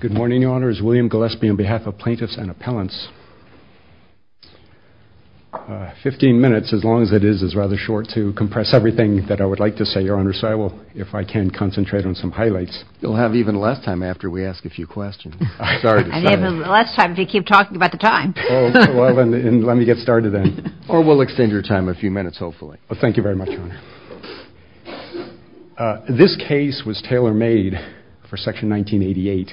Good morning, Your Honor. It's William Gillespie on behalf of plaintiffs and appellants. 15 minutes, as long as it is, is rather short to compress everything that I would like to say, Your Honor, so I will, if I can, concentrate on some highlights. You'll have even less time after we ask a few questions. I'm sorry to say. And even less time if you keep talking about the time. Oh, well, then let me get started then. Or we'll extend your time a few minutes, hopefully. Well, thank you very much, Your Honor. This case was tailor-made for Section 1988.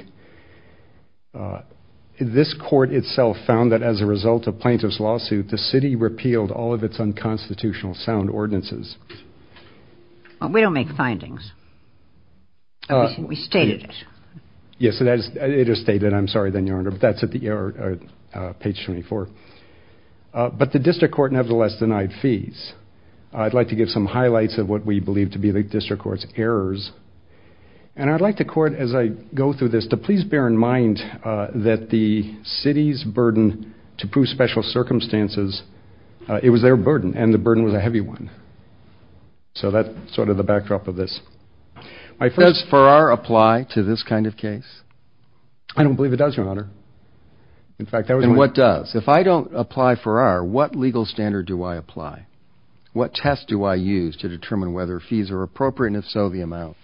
This court itself found that as a result of plaintiff's lawsuit, the city repealed all of its unconstitutional sound ordinances. We don't make findings. We stated it. Yes, it is stated. I'm sorry then, Your Honor, but that's at the page 24. But the highlights of what we believe to be the district court's errors. And I'd like the court, as I go through this, to please bear in mind that the city's burden to prove special circumstances, it was their burden. And the burden was a heavy one. So that's sort of the backdrop of this. Does Farrar apply to this kind of case? I don't believe it does, Your Honor. In fact, what does? If I don't apply for Farrar, what legal standard do I apply? What test do I use to determine whether fees are appropriate, and if so, the amount?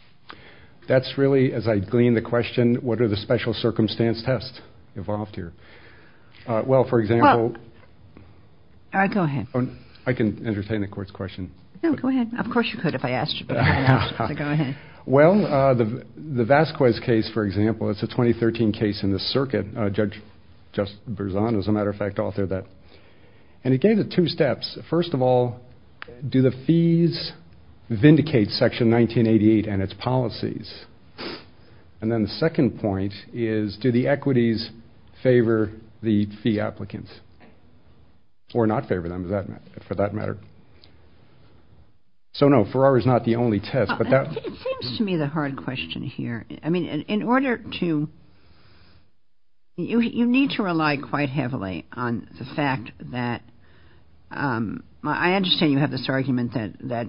That's really, as I glean the question, what are the special circumstance tests involved here? Well, for example... Go ahead. I can entertain the court's question. No, go ahead. Of course you could, if I asked you. Well, the Vasquez case, for example, it's a 2013 case in the circuit. Judge Brizon, as a matter of fact, authored that. And he gave the two steps. First of all, do the fees vindicate Section 1988 and its policies? And then the second point is, do the equities favor the fee applicants? Or not favor them, for that matter. So no, Farrar is not the only test. It seems to me the hard question here. I mean, in order to... You need to rely quite heavily on the fact that... I understand you have this argument that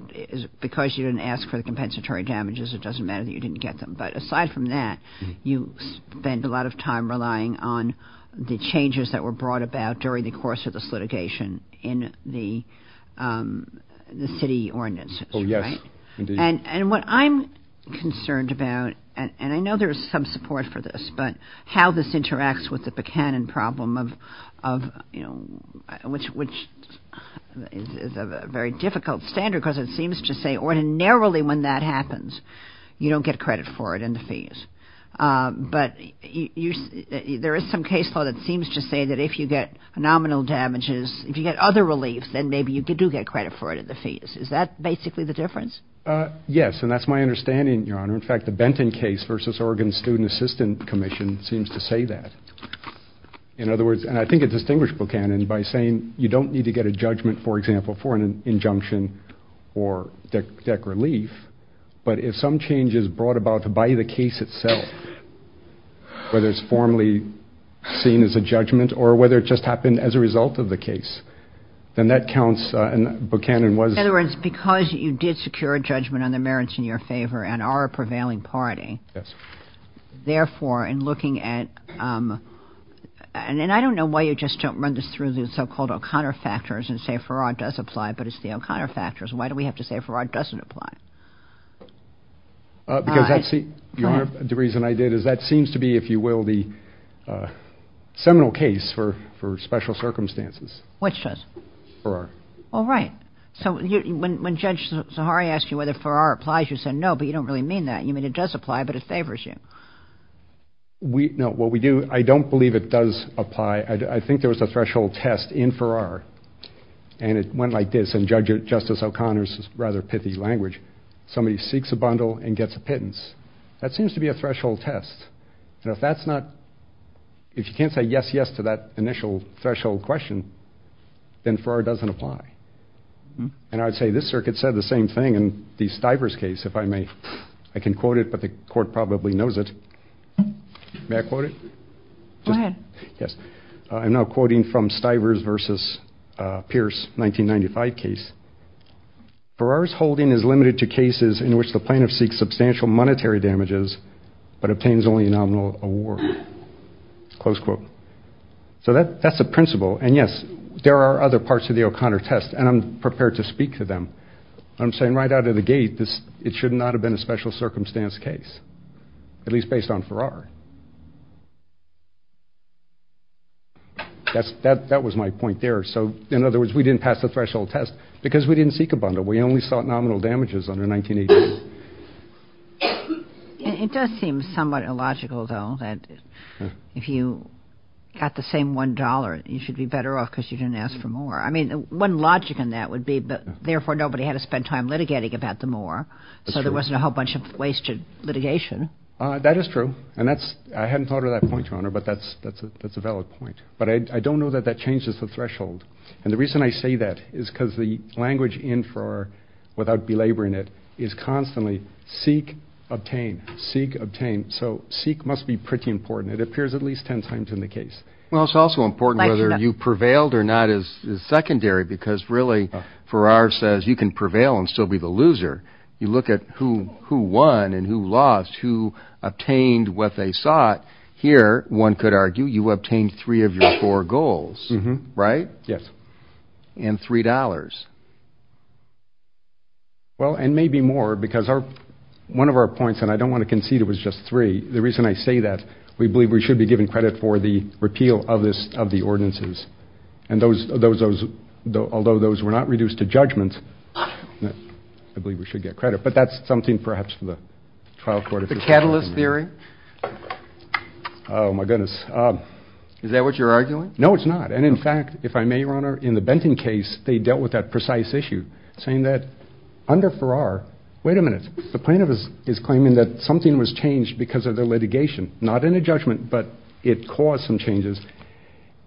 because you didn't ask for the compensatory damages, it doesn't matter that you didn't get them. But aside from that, you spend a lot of time relying on the changes that were brought about during the course of this litigation in the city ordinances, right? And what I'm concerned about, and I know there's some support for this, but how this interacts with the Buchanan problem of, you know, which is a very difficult standard because it seems to say ordinarily when that happens, you don't get credit for it in the fees. But there is some case law that seems to say that if you get nominal damages, if you get other reliefs, then maybe you do get credit for it in the fees. Is that basically the difference? Yes, and that's my understanding, Your Honor. In fact, the Benton case versus Oregon Student Assistant Commission seems to say that. In other words, and I think it distinguished Buchanan by saying you don't need to get a judgment, for example, for an injunction or DEC relief, but if some change is brought about by the case itself, whether it's formally seen as a judgment or whether it just happened as a result of the case, then that counts and Buchanan was... In other words, because you did secure a judgment on the merits in your favor and are a prevailing party, therefore, in looking at... and I don't know why you just don't run this through the so-called O'Connor factors and say Farrar does apply, but it's the O'Connor factors. Why do we have to say Farrar doesn't apply? Because that's the... Your Honor, the reason I did is that seems to be, if you will, the seminal case for special circumstances. Which does? Farrar. All right. So when Judge Zahari asked you whether Farrar applies, you said no, but you don't really mean that. You mean it does apply, but it favors you. We... No, what we do... I don't believe it does apply. I think there was a threshold test in Farrar and it went like this, and Judge Justice O'Connor's rather pithy language, somebody seeks a bundle and gets a pittance. That seems to be a threshold test, and if that's not... if you can't say yes-yes to that initial threshold question, then Farrar doesn't apply. And I'd say this circuit said the same thing in the Stivers case, if I may. I can quote it, but the court probably knows it. May I quote it? Go ahead. Yes. I'm now quoting from Stivers versus Pierce 1995 case. Farrar's holding is limited to cases in which the plaintiff seeks substantial monetary damages, but obtains only a nominal award. Close quote. So that's the principle, and yes, there are other parts of the O'Connor test, and I'm prepared to speak to them. I'm saying right out of the gate, this... it should not have been a special circumstance case, at least based on Farrar. That was my point there. So, in other words, we didn't pass the threshold test because we didn't seek a bundle. We only sought a bundle. It's somewhat illogical, though, that if you got the same one dollar, you should be better off because you didn't ask for more. I mean, one logic in that would be, but therefore nobody had to spend time litigating about the more, so there wasn't a whole bunch of wasted litigation. That is true, and that's... I hadn't thought of that point, Your Honor, but that's... that's a valid point. But I don't know that that changes the threshold, and the reason I say that is because the language in Farrar, without belaboring it, is constantly seek, obtain, seek, obtain. So seek must be pretty important. It appears at least ten times in the case. Well, it's also important whether you prevailed or not is secondary, because really, Farrar says you can prevail and still be the loser. You look at who... who won and who lost, who obtained what they sought. Here, one could argue, you obtained three of your four goals, right? Yes. And three dollars. Well, and maybe more, because our... one of our points, and I don't want to concede it was just three, the reason I say that, we believe we should be given credit for the repeal of this... of the ordinances. And those... those... those... although those were not reduced to judgment, I believe we should get credit. But that's something perhaps for the trial court... The catalyst theory? Oh my goodness. Is that what you're arguing? No, it's not, and in fact, if I may, Your Honor, in the case of Farrar, wait a minute, the plaintiff is... is claiming that something was changed because of the litigation, not in a judgment, but it caused some changes,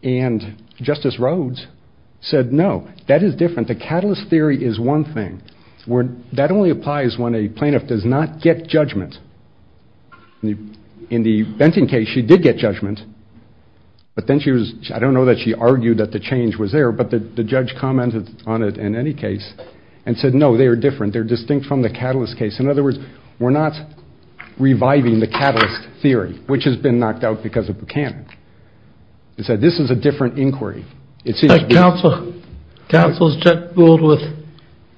and Justice Rhodes said, no, that is different. The catalyst theory is one thing, where that only applies when a plaintiff does not get judgment. In the Benton case, she did get judgment, but then she was... I don't know that she argued that the change was there, but the... the judge commented on it in any case and said, no, they are different. They're distinct from the catalyst case. In other words, we're not reviving the catalyst theory, which has been knocked out because of Buchanan. He said, this is a different inquiry. It seems... But counsel... counsel's just fooled with...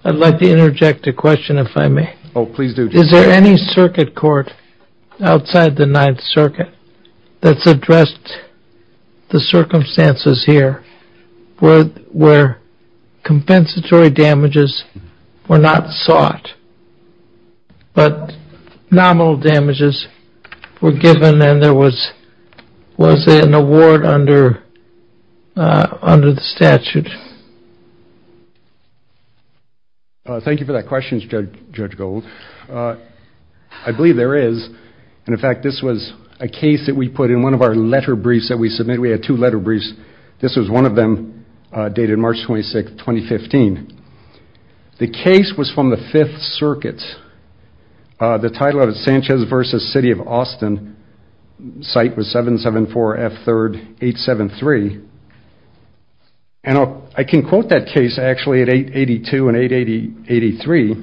I'd like to interject a question, if I may. Oh, please do. Is there any circuit court outside the Ninth Circuit that's addressed the not sought, but nominal damages were given and there was... was there an award under... under the statute? Thank you for that question, Judge Gold. I believe there is, and in fact, this was a case that we put in one of our letter briefs that we submitted. We had two letter briefs. This was one of them, dated March 26, 2015. The case was from the Fifth Circuit. The title of it, Sanchez versus City of Austin, site was 774 F 3rd 873. And I can quote that case, actually, at 882 and 883.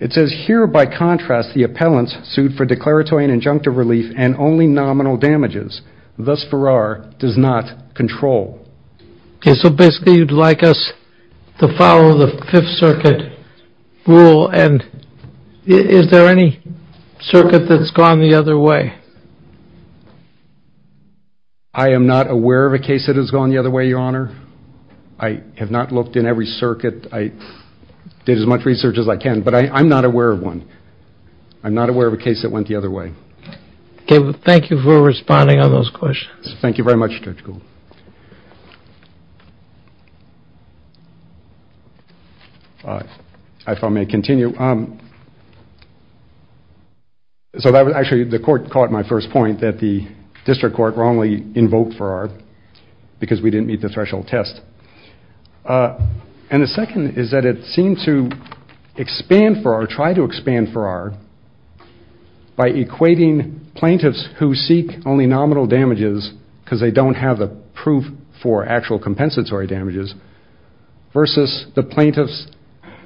It says, here, by contrast, the appellant sued for declaratory and injunctive relief and only nominal damages. Thus, Farrar does not control. Okay, so basically, you'd like us to follow the Fifth Circuit rule and is there any circuit that's gone the other way? I am not aware of a case that has gone the other way, Your Honor. I have not looked in every circuit. I did as much research as I can, but I'm not aware of one. I'm not aware of a case that went the other way. Okay, well, thank you for responding on those questions. Thank you very much, Judge Gould. If I may continue. Actually, the court caught my first point that the district court wrongly invoked Farrar because we didn't meet the threshold test. And the second is that it seemed to expand Farrar, try to expand they don't have the proof for actual compensatory damages, versus the plaintiffs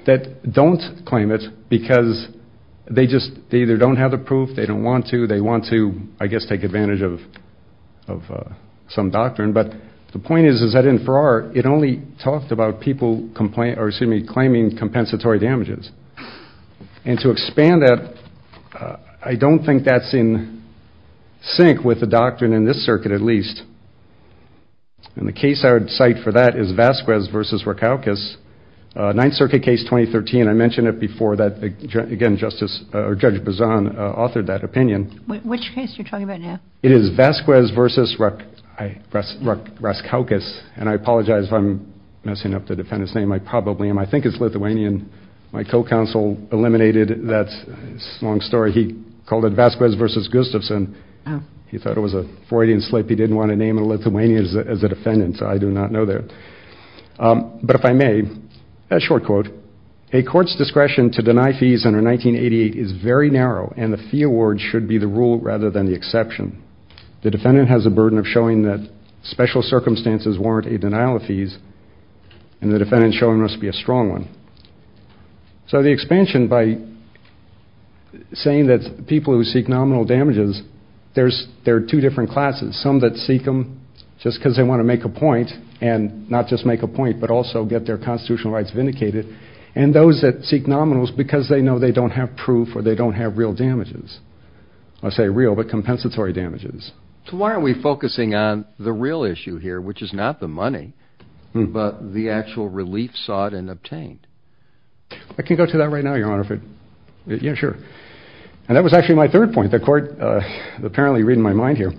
that don't claim it because they just either don't have the proof, they don't want to, they want to, I guess, take advantage of some doctrine. But the point is that in Farrar, it only talked about people claiming compensatory damages. And to expand that, I don't think that's in sync with the and the case I would cite for that is Vasquez versus Rakowkis. Ninth Circuit case 2013, I mentioned it before that again, Justice, or Judge Bazan authored that opinion. Which case you're talking about now? It is Vasquez versus Rakowkis. And I apologize if I'm messing up the defendant's name. I probably am. I think it's Lithuanian. My co-counsel eliminated that long story. He called it Vasquez versus Gustafson. He thought it was a Freudian slip. He didn't want to name a Lithuanian as a defendant, so I do not know that. But if I may, a short quote, a court's discretion to deny fees under 1988 is very narrow, and the fee award should be the rule rather than the exception. The defendant has a burden of showing that special circumstances warrant a denial of fees, and the defendant showing must be a strong one. So the expansion, by saying that people who seek nominal damages, there are two different classes. Some that seek nominal, just because they want to make a point, and not just make a point, but also get their constitutional rights vindicated. And those that seek nominals because they know they don't have proof or they don't have real damages. I say real, but compensatory damages. So why aren't we focusing on the real issue here, which is not the money, but the actual relief sought and obtained? I can go to that right now, Your Honor. Yeah, sure. And that was actually my third point. The court, apparently reading my mind here,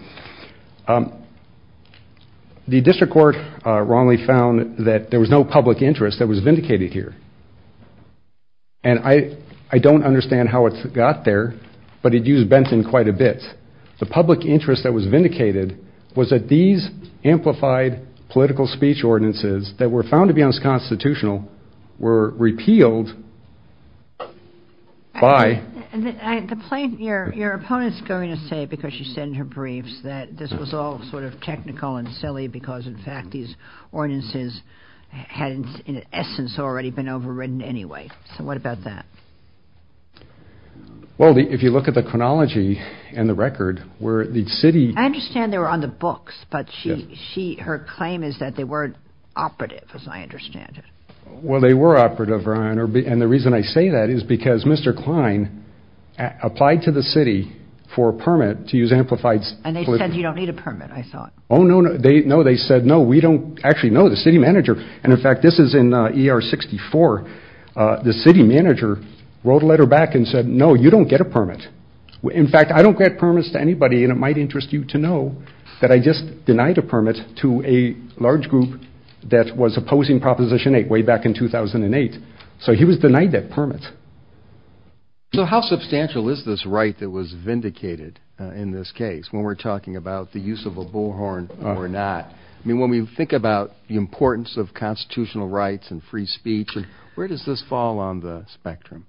the district court wrongly found that there was no public interest that was vindicated here. And I don't understand how it got there, but it used Benton quite a bit. The public interest that was vindicated was that these amplified political speech ordinances that were found to be unconstitutional were repealed by... Your opponent's going to say, because she said in her briefs, that this was all sort of technical and silly because, in fact, these ordinances hadn't in essence already been overwritten anyway. So what about that? Well, if you look at the chronology and the record, where the city... I understand they were on the books, but her claim is that they weren't operative, as I understand it. Well, they were operative, Your Honor, and the reason I say that is because Mr. Klein applied to the city for a permit to use amplified... And they said you don't need a permit, I thought. Oh, no, no. They said, no, we don't actually know. The city manager... And, in fact, this is in ER 64. The city manager wrote a letter back and said, no, you don't get a permit. In fact, I don't grant permits to anybody, and it might interest you to know that I just denied a permit to a large group that was opposing Proposition 8 way back in 2008. So he was denied that permit. So how substantial is this right that was vindicated in this case when we're talking about the use of a bullhorn or not? I mean, when we think about the importance of constitutional rights and free speech, where does this fall on the spectrum?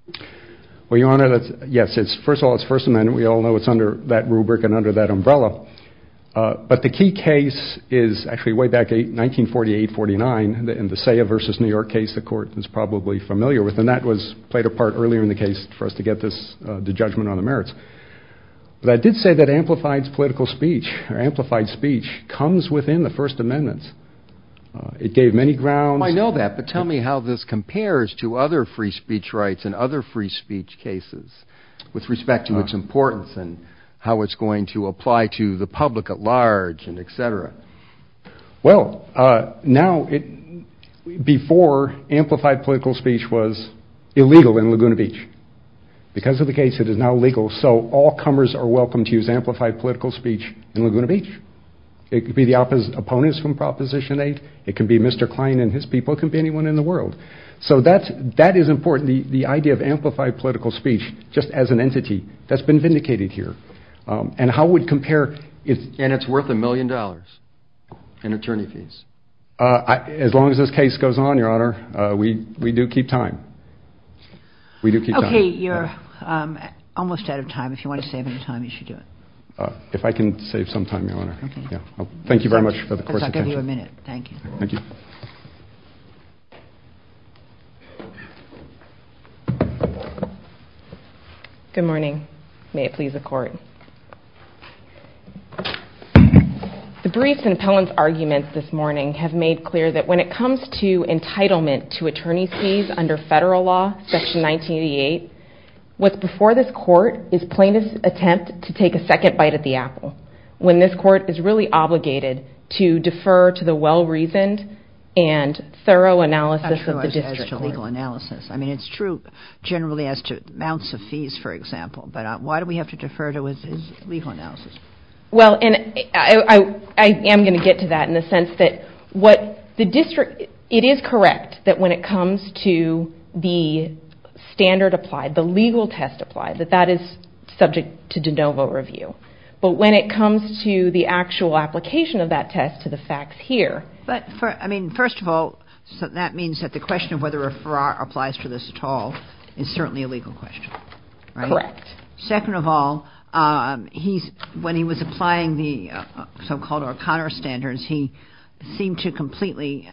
Well, Your Honor, that's... Yes, it's... First of all, it's First Amendment. We all know it's under that rubric and under that umbrella. But the key case is actually way back in 1948-49, in the Seya v. New York case, the court is probably familiar with, and that was played a part earlier in the case for us to get this... the judgment on the merits. But I did say that amplified political speech, or amplified speech, comes within the First Amendment. It gave many grounds... I know that, but tell me how this compares to other free speech rights and other free speech cases with respect to its importance and how it's going to apply to the public at large and etc. Well, now it... before amplified political speech was illegal in Laguna Beach. Because of the case, it is now legal. So all comers are welcome to use amplified political speech in Laguna Beach. It could be the opponents from Proposition 8. It can be Mr. Klein and his people. It can be anyone in the world. So that's... that is important. The idea of amplified political speech, just as an entity, that's been vindicated here. And how it would compare... And it's worth a million dollars in attorney fees? As long as this case goes on, Your Honor, we do keep time. We do keep time. Okay, you're almost out of time. If you want to save any time, you should do it. If I can save some time, Your Honor. Thank you very much for the court's attention. I'll give you a minute. Thank you. Good morning. May it please the court. The briefs and appellant's arguments this morning have made clear that when it comes to entitlement to attorney's fees under federal law, Section 1988, what's before this court is plaintiff's attempt to take a second bite at the apple, when this court is really obligated to defer to the well-reasoned and thorough analysis of the district court. That's not true as to legal analysis. I mean, it's true generally as to amounts of fees, for example. But why do we have to defer to it as legal analysis? Well, and I am going to get to that in the sense that what the district... it is correct that when it comes to the standard applied, the legal test applied, that that is subject to de novo review. But when it comes to the actual application of that test to the facts here... But, I mean, first of all, that means that the question of whether a Farrar applies to this at all is certainly a legal question, right? Correct. Second of all, when he was applying the so-called O'Connor standards, he seemed to completely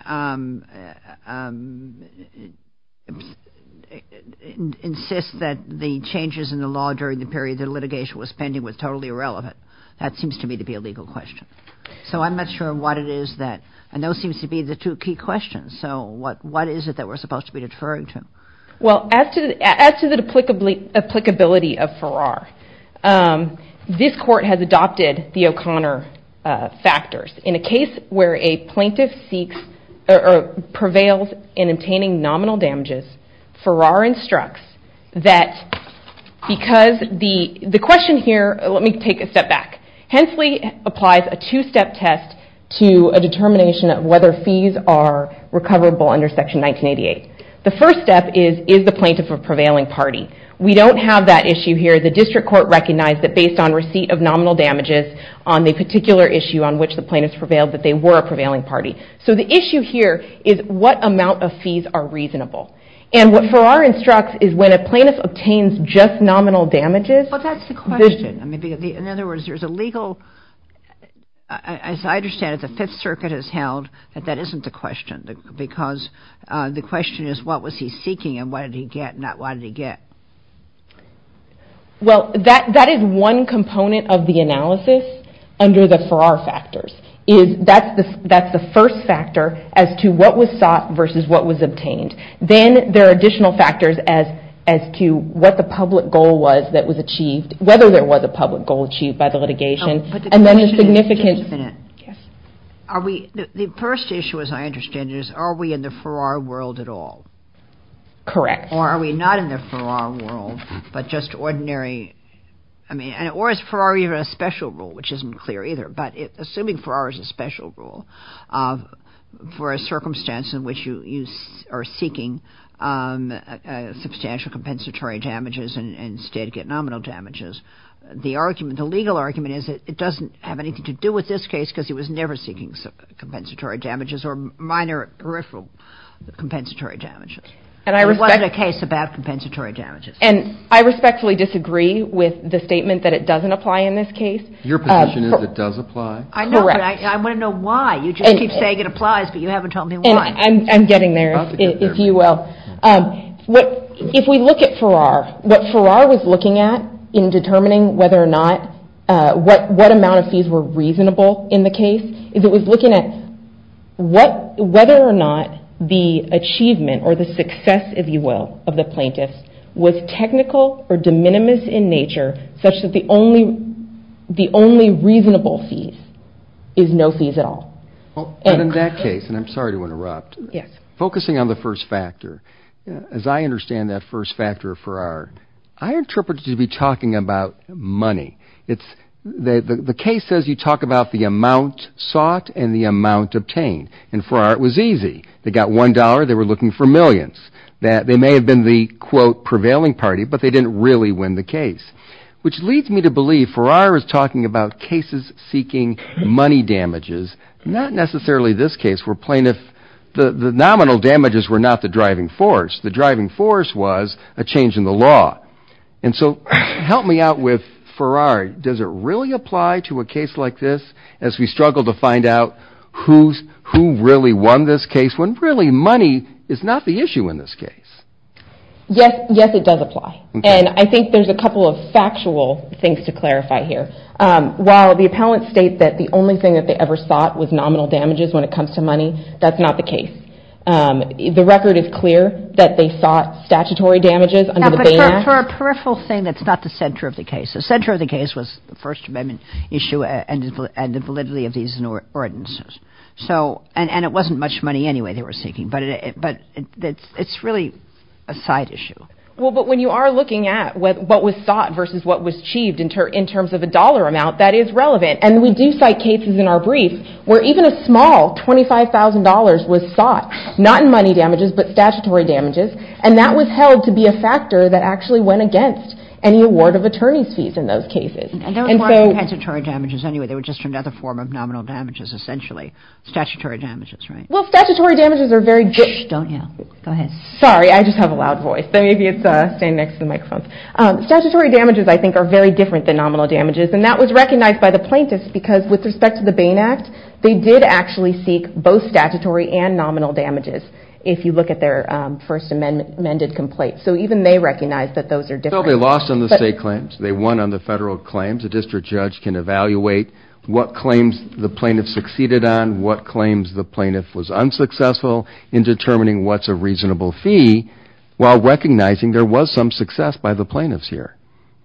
insist that the changes in the law during the period the litigation was pending was totally irrelevant. That seems to me to be a legal question. So I'm not sure what it is that... and those seem to be the two key questions. So what is it that we're supposed to be deferring to? Well, as to the applicability of Farrar, this court has adopted the O'Connor factors. In a case where a plaintiff seeks or prevails in obtaining nominal damages, Farrar instructs that because the question here... let me take a step back. Hensley applies a two-step test to a determination of whether fees are recoverable under Section 1988. The first step is, is the plaintiff a prevailing party? We don't have that issue here. The district court recognized that based on receipt of nominal damages on the particular issue on which the plaintiff prevailed, that they were a prevailing party. So the issue here is what amount of fees are reasonable? And what Farrar instructs is when a plaintiff obtains just nominal damages...... In other words, there's a legal... as I understand it, the 5th Circuit has held that that isn't the question. Because the question is what was he seeking and what did he get not what did he get. Well, that is one component of the analysis under the Farrar factors. That's the first factor as to what was sought versus what was obtained. Then there are additional factors as to what the particular public goal was that was achieved, whether there was a public goal achieved by the litigation, and then the significance... The first issue, as I understand it, is are we in the Farrar world at all? Correct. Or are we not in the Farrar world, but just ordinary... Or is Farrar even a special rule, which isn't clear either, but assuming Farrar is a special rule, for a circumstance in which you are seeking substantial compensatory damages and instead get nominal damages, the argument, the legal argument is that it doesn't have anything to do with this case because he was never seeking compensatory damages or minor peripheral compensatory damages. And I respectfully disagree with the statement that it doesn't apply in this case. Your position is it does apply? I know, but I want to know why. You just keep saying it applies, but you haven't told me why. I'm getting there, if you will. If we look at Farrar, what Farrar was looking at in determining whether or not, what amount of fees were reasonable in the case, is it was looking at whether or not the achievement or the success, if you will, of the plaintiffs was technical or de minimis in nature, such that the only... The only reasonable fees is no fees at all. But in that case, and I'm sorry to interrupt, focusing on the first factor, as I understand that first factor of Farrar, I interpret it to be talking about money. The case says you talk about the amount sought and the amount obtained, and Farrar, it was easy. They got one dollar, they were looking for millions. They may have been the, quote, prevailing party, but they didn't really win the case. Which leads me to believe Farrar is talking about cases seeking money damages, not necessarily this case where plaintiff... The nominal damages were not the driving force. The driving force was a change in the law. And so help me out with Farrar. Does it really apply to a case like this as we struggle to find out who really won this case when really money is not the issue in this case? Yes, it does apply, and I think there's a couple of factual things to clarify here. While the appellant states that the only thing that they ever sought was nominal damages when it comes to money, that's not the case. The record is clear that they sought statutory damages under the Baymax... For a peripheral thing, that's not the center of the case. The center of the case was the First Amendment issue and the validity of these ordinances. And it wasn't much money anyway they were seeking, but it's really a side issue. Well, but when you are looking at what was sought versus what was achieved in terms of a dollar amount, that is relevant. And we do cite cases in our brief where even a small $25,000 was sought, not in money damages, but statutory damages. And that was held to be a factor that actually went against any award of attorney's fees in those cases. And they were not even statutory damages anyway, they were just another form of nominal damages, essentially. Statutory damages, right? Well, statutory damages are very... Statutory damages, I think, are very different than nominal damages, and that was recognized by the plaintiffs because with respect to the Bain Act, they did actually seek both statutory and nominal damages if you look at their First Amendment complaints. So even they recognize that those are different. So they lost on the state claims, they won on the federal claims. A district judge can evaluate what claims the plaintiff succeeded on, what claims the plaintiff was unsuccessful in determining what's a reasonable fee, while recognizing there was some success by the plaintiffs here.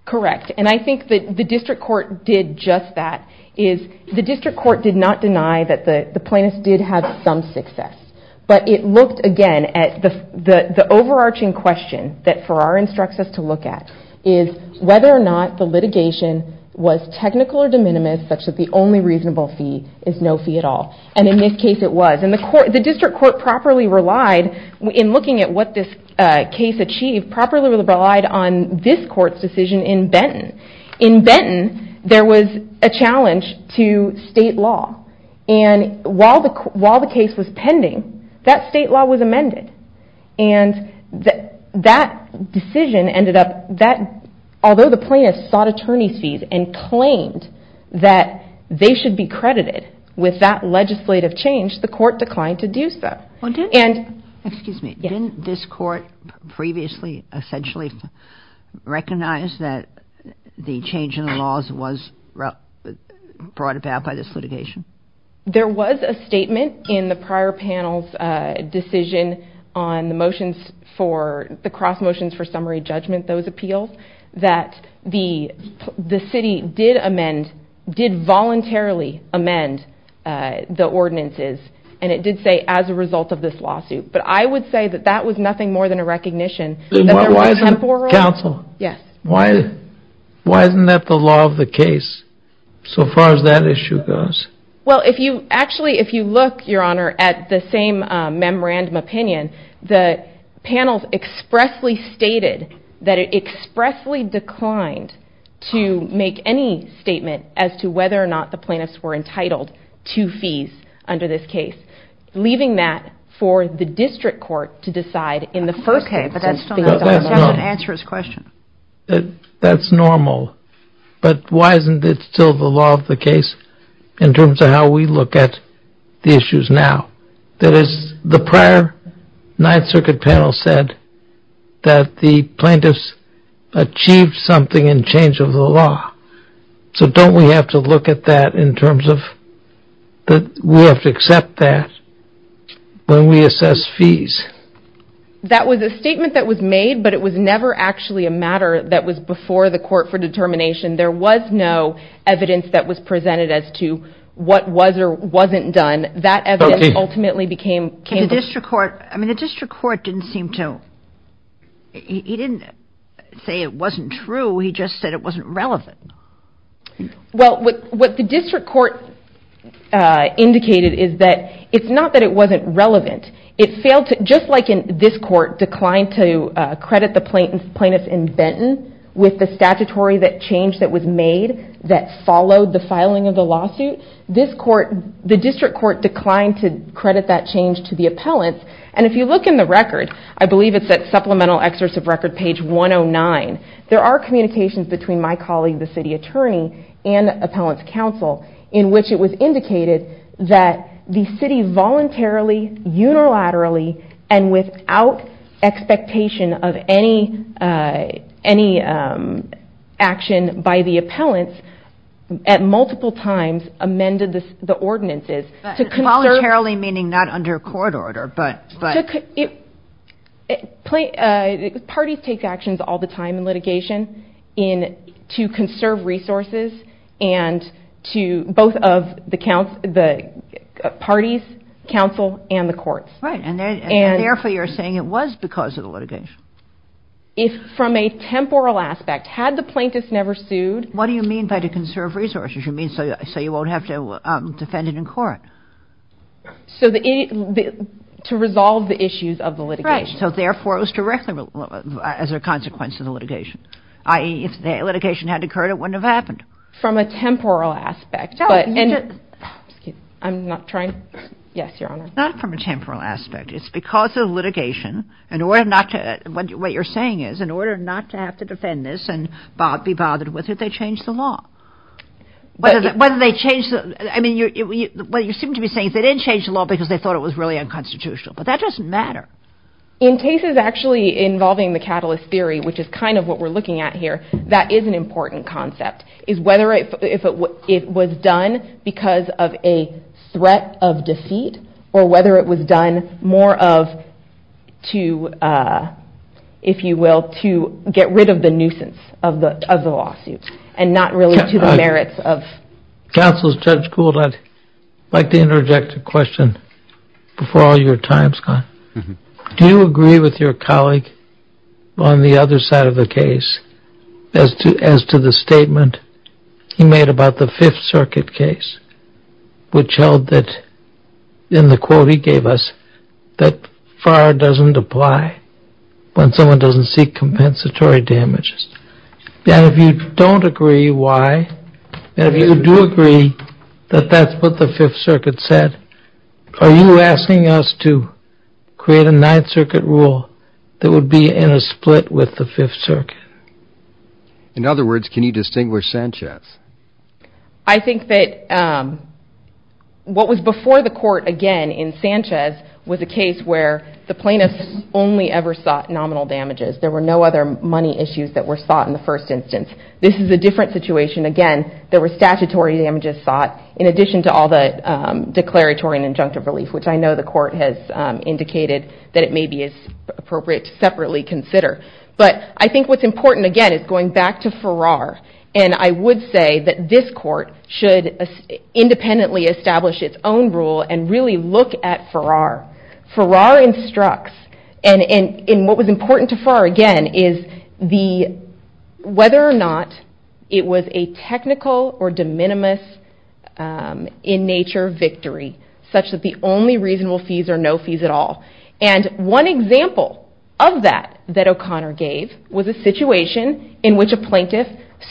Correct, and I think the district court did just that. The district court did not deny that the plaintiffs did have some success, but it looked, again, at the overarching question that Farrar instructs us to look at, is whether or not the litigation was technical or de minimis, such that the only reasonable fee is no fee at all. And in this case it was, and the district court properly relied, in looking at what this case achieved, in Benton there was a challenge to state law, and while the case was pending, that state law was amended. And that decision ended up, although the plaintiffs sought attorney's fees and claimed that they should be credited with that legislative change, the court declined to do so. Excuse me, didn't this court previously essentially recognize that the change in the laws was brought about by this litigation? There was a statement in the prior panel's decision on the motions for, the cross motions for summary judgment, those appeals, that the city did amend, did voluntarily amend the ordinances, and it did say, as a result of this lawsuit. But I would say that that was nothing more than a recognition that there was a temporal... Counsel, why isn't that the law of the case, so far as that issue goes? Well, actually, if you look, Your Honor, at the same memorandum opinion, the panels expressly stated that it expressly declined to make any statement as to whether or not the plaintiffs were entitled to fees under this statute. That's not the case. Leaving that for the district court to decide in the first instance. Okay, but that still doesn't answer his question. That's normal. But why isn't it still the law of the case in terms of how we look at the issues now? That is, the prior Ninth Circuit panel said that the plaintiffs achieved something in change of the law. So don't we have to look at that in terms of... We have to accept that when we assess fees. That was a statement that was made, but it was never actually a matter that was before the court for determination. There was no evidence that was presented as to what was or wasn't done. That evidence ultimately became... The district court didn't seem to... He didn't say it wasn't true. He just said it wasn't relevant. Well, what the district court indicated is that it's not that it wasn't relevant. It failed to... Just like this court declined to credit the plaintiffs in Benton with the statutory change that was made that followed the filing of the lawsuit, the district court declined to credit that change to the appellants. If you look in the record, I believe it's at Supplemental Excerpt of Record, page 109, there are communications between my colleague, the city attorney, and Appellants Council, in which it was indicated that the city voluntarily, unilaterally, and without expectation of any action by the appellants, at multiple times amended the ordinances to conserve... Voluntarily meaning not under court order, but... Parties take actions all the time in litigation to conserve resources and to both of the parties, council, and the courts. Right, and therefore you're saying it was because of the litigation. From a temporal aspect, had the plaintiffs never sued... What do you mean by to conserve resources? You mean so you won't have to defend it in court? To resolve the issues of the litigation. Right, so therefore it was directly as a consequence of the litigation. I.e., if the litigation had occurred, it wouldn't have happened. From a temporal aspect, but... Not from a temporal aspect. It's because of litigation, in order not to... What you're saying is, in order not to have to defend this and be bothered with it, they changed the law. Whether they changed the... That is an important concept. If it was done because of a threat of defeat, or whether it was done more of... To, if you will, to get rid of the nuisance of the lawsuit. And not really to the merits of... Counsel Judge Gould, I'd like to interject a question before all your time is gone. Do you agree with your colleague on the other side of the case, as to the statement he made about the 5th Circuit case, which held that, in the quote he gave us, that FAR doesn't apply when someone doesn't seek compensatory damages. And if you don't agree, why? And if you do agree that that's what the 5th Circuit said, are you asking us to create a 9th Circuit rule that would be in a split with the 5th Circuit? In other words, can you distinguish Sanchez? I think that what was before the court, again, in Sanchez, was a case where the plaintiffs only ever sought nominal damages. There were no other money issues that were sought in the first instance. This is a different situation. Again, there were statutory damages sought, in addition to all the declaratory and injunctive relief, which I know the court has indicated that it may be appropriate to separately consider. But I think what's important, again, is going back to Farrar. And I would say that this court should independently establish its own rule and really look at Farrar. Farrar instructs, and what was important to Farrar, again, is whether or not it was a technical or de minimis in nature victory, such that the only reasonable fees are no fees at all. And one example of that that O'Connor gave was a situation in which a plaintiff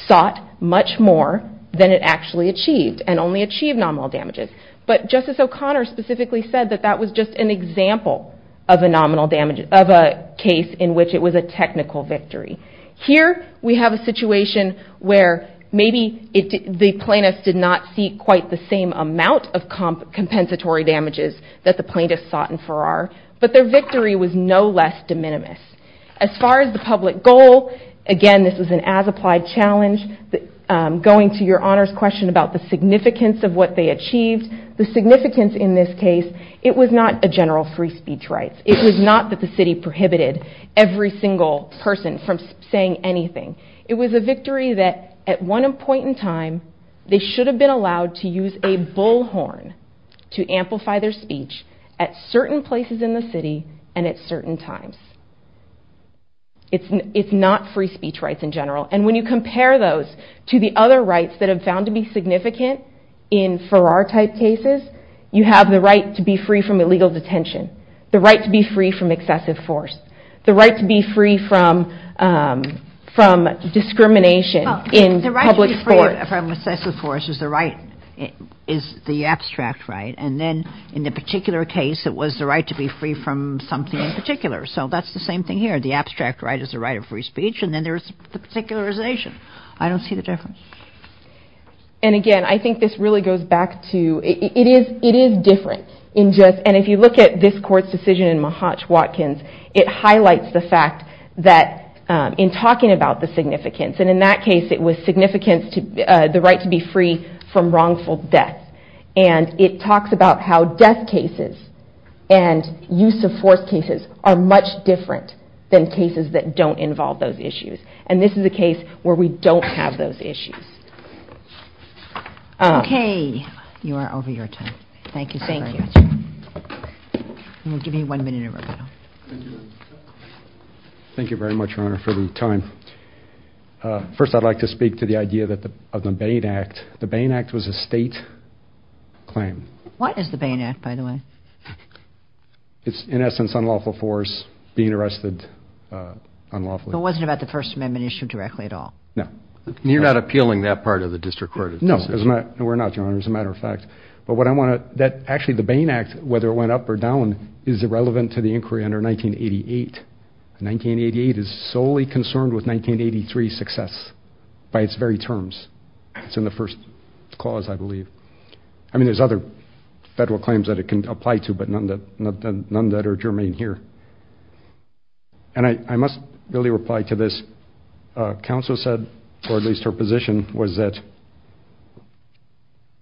sought much more than it actually achieved, and only achieved nominal damages. But Justice O'Connor specifically said that that was just an example of a case in which it was a technical victory. Here we have a situation where maybe the plaintiffs did not see quite the same amount of compensatory damages that the plaintiffs sought in Farrar, but their victory was no less de minimis. As far as the public goal, again, this was an as-applied challenge. Going to your honors question about the significance of what they achieved, the significance in this case, it was not a general free speech rights. It was not that the city prohibited every single person from saying anything. It was a victory that at one point in time they should have been allowed to use a bullhorn to amplify their speech at certain places in the city and at certain times. It's not free speech rights in general. And when you compare those to the other rights that have found to be significant in Farrar-type cases, you have the right to be free from illegal detention, the right to be free from excessive force, the right to be free from discrimination in public sports. The right to be free from excessive force is the abstract right. And then in the particular case, it was the right to be free from something in particular. So that's the same thing here. The abstract right is the right of free speech, and then there's the particularization. I don't see the difference. And again, I think this really goes back to it is different. And if you look at this court's decision in Mahatch-Watkins, it highlights the fact that in talking about the significance, and in that case it was the right to be free from wrongful death. And it talks about how death cases and use of force cases are much different than cases that don't involve those issues. And this is a case where we don't have those issues. Okay, you are over your time. Thank you. First I'd like to speak to the idea of the Bain Act. The Bain Act was a state claim. What is the Bain Act, by the way? It's in essence unlawful force, being arrested unlawfully. It wasn't about the First Amendment issue directly at all? No. Actually, the Bain Act, whether it went up or down, is irrelevant to the inquiry under 1988. 1988 is solely concerned with 1983's success by its very terms. It's in the first clause, I believe. I mean, there's other federal claims that it can apply to, but none that are germane here. And I must really reply to this. Counsel said, or at least her position was that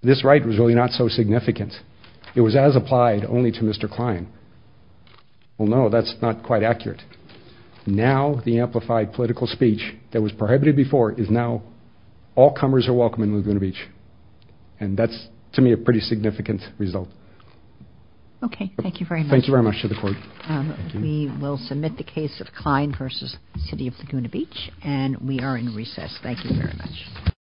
this right was really not so significant. It was as applied only to Mr. Klein. Well, no, that's not quite accurate. Now the amplified political speech that was prohibited before is now all comers are welcome in Laguna Beach. And that's, to me, a pretty significant result. Okay, thank you very much.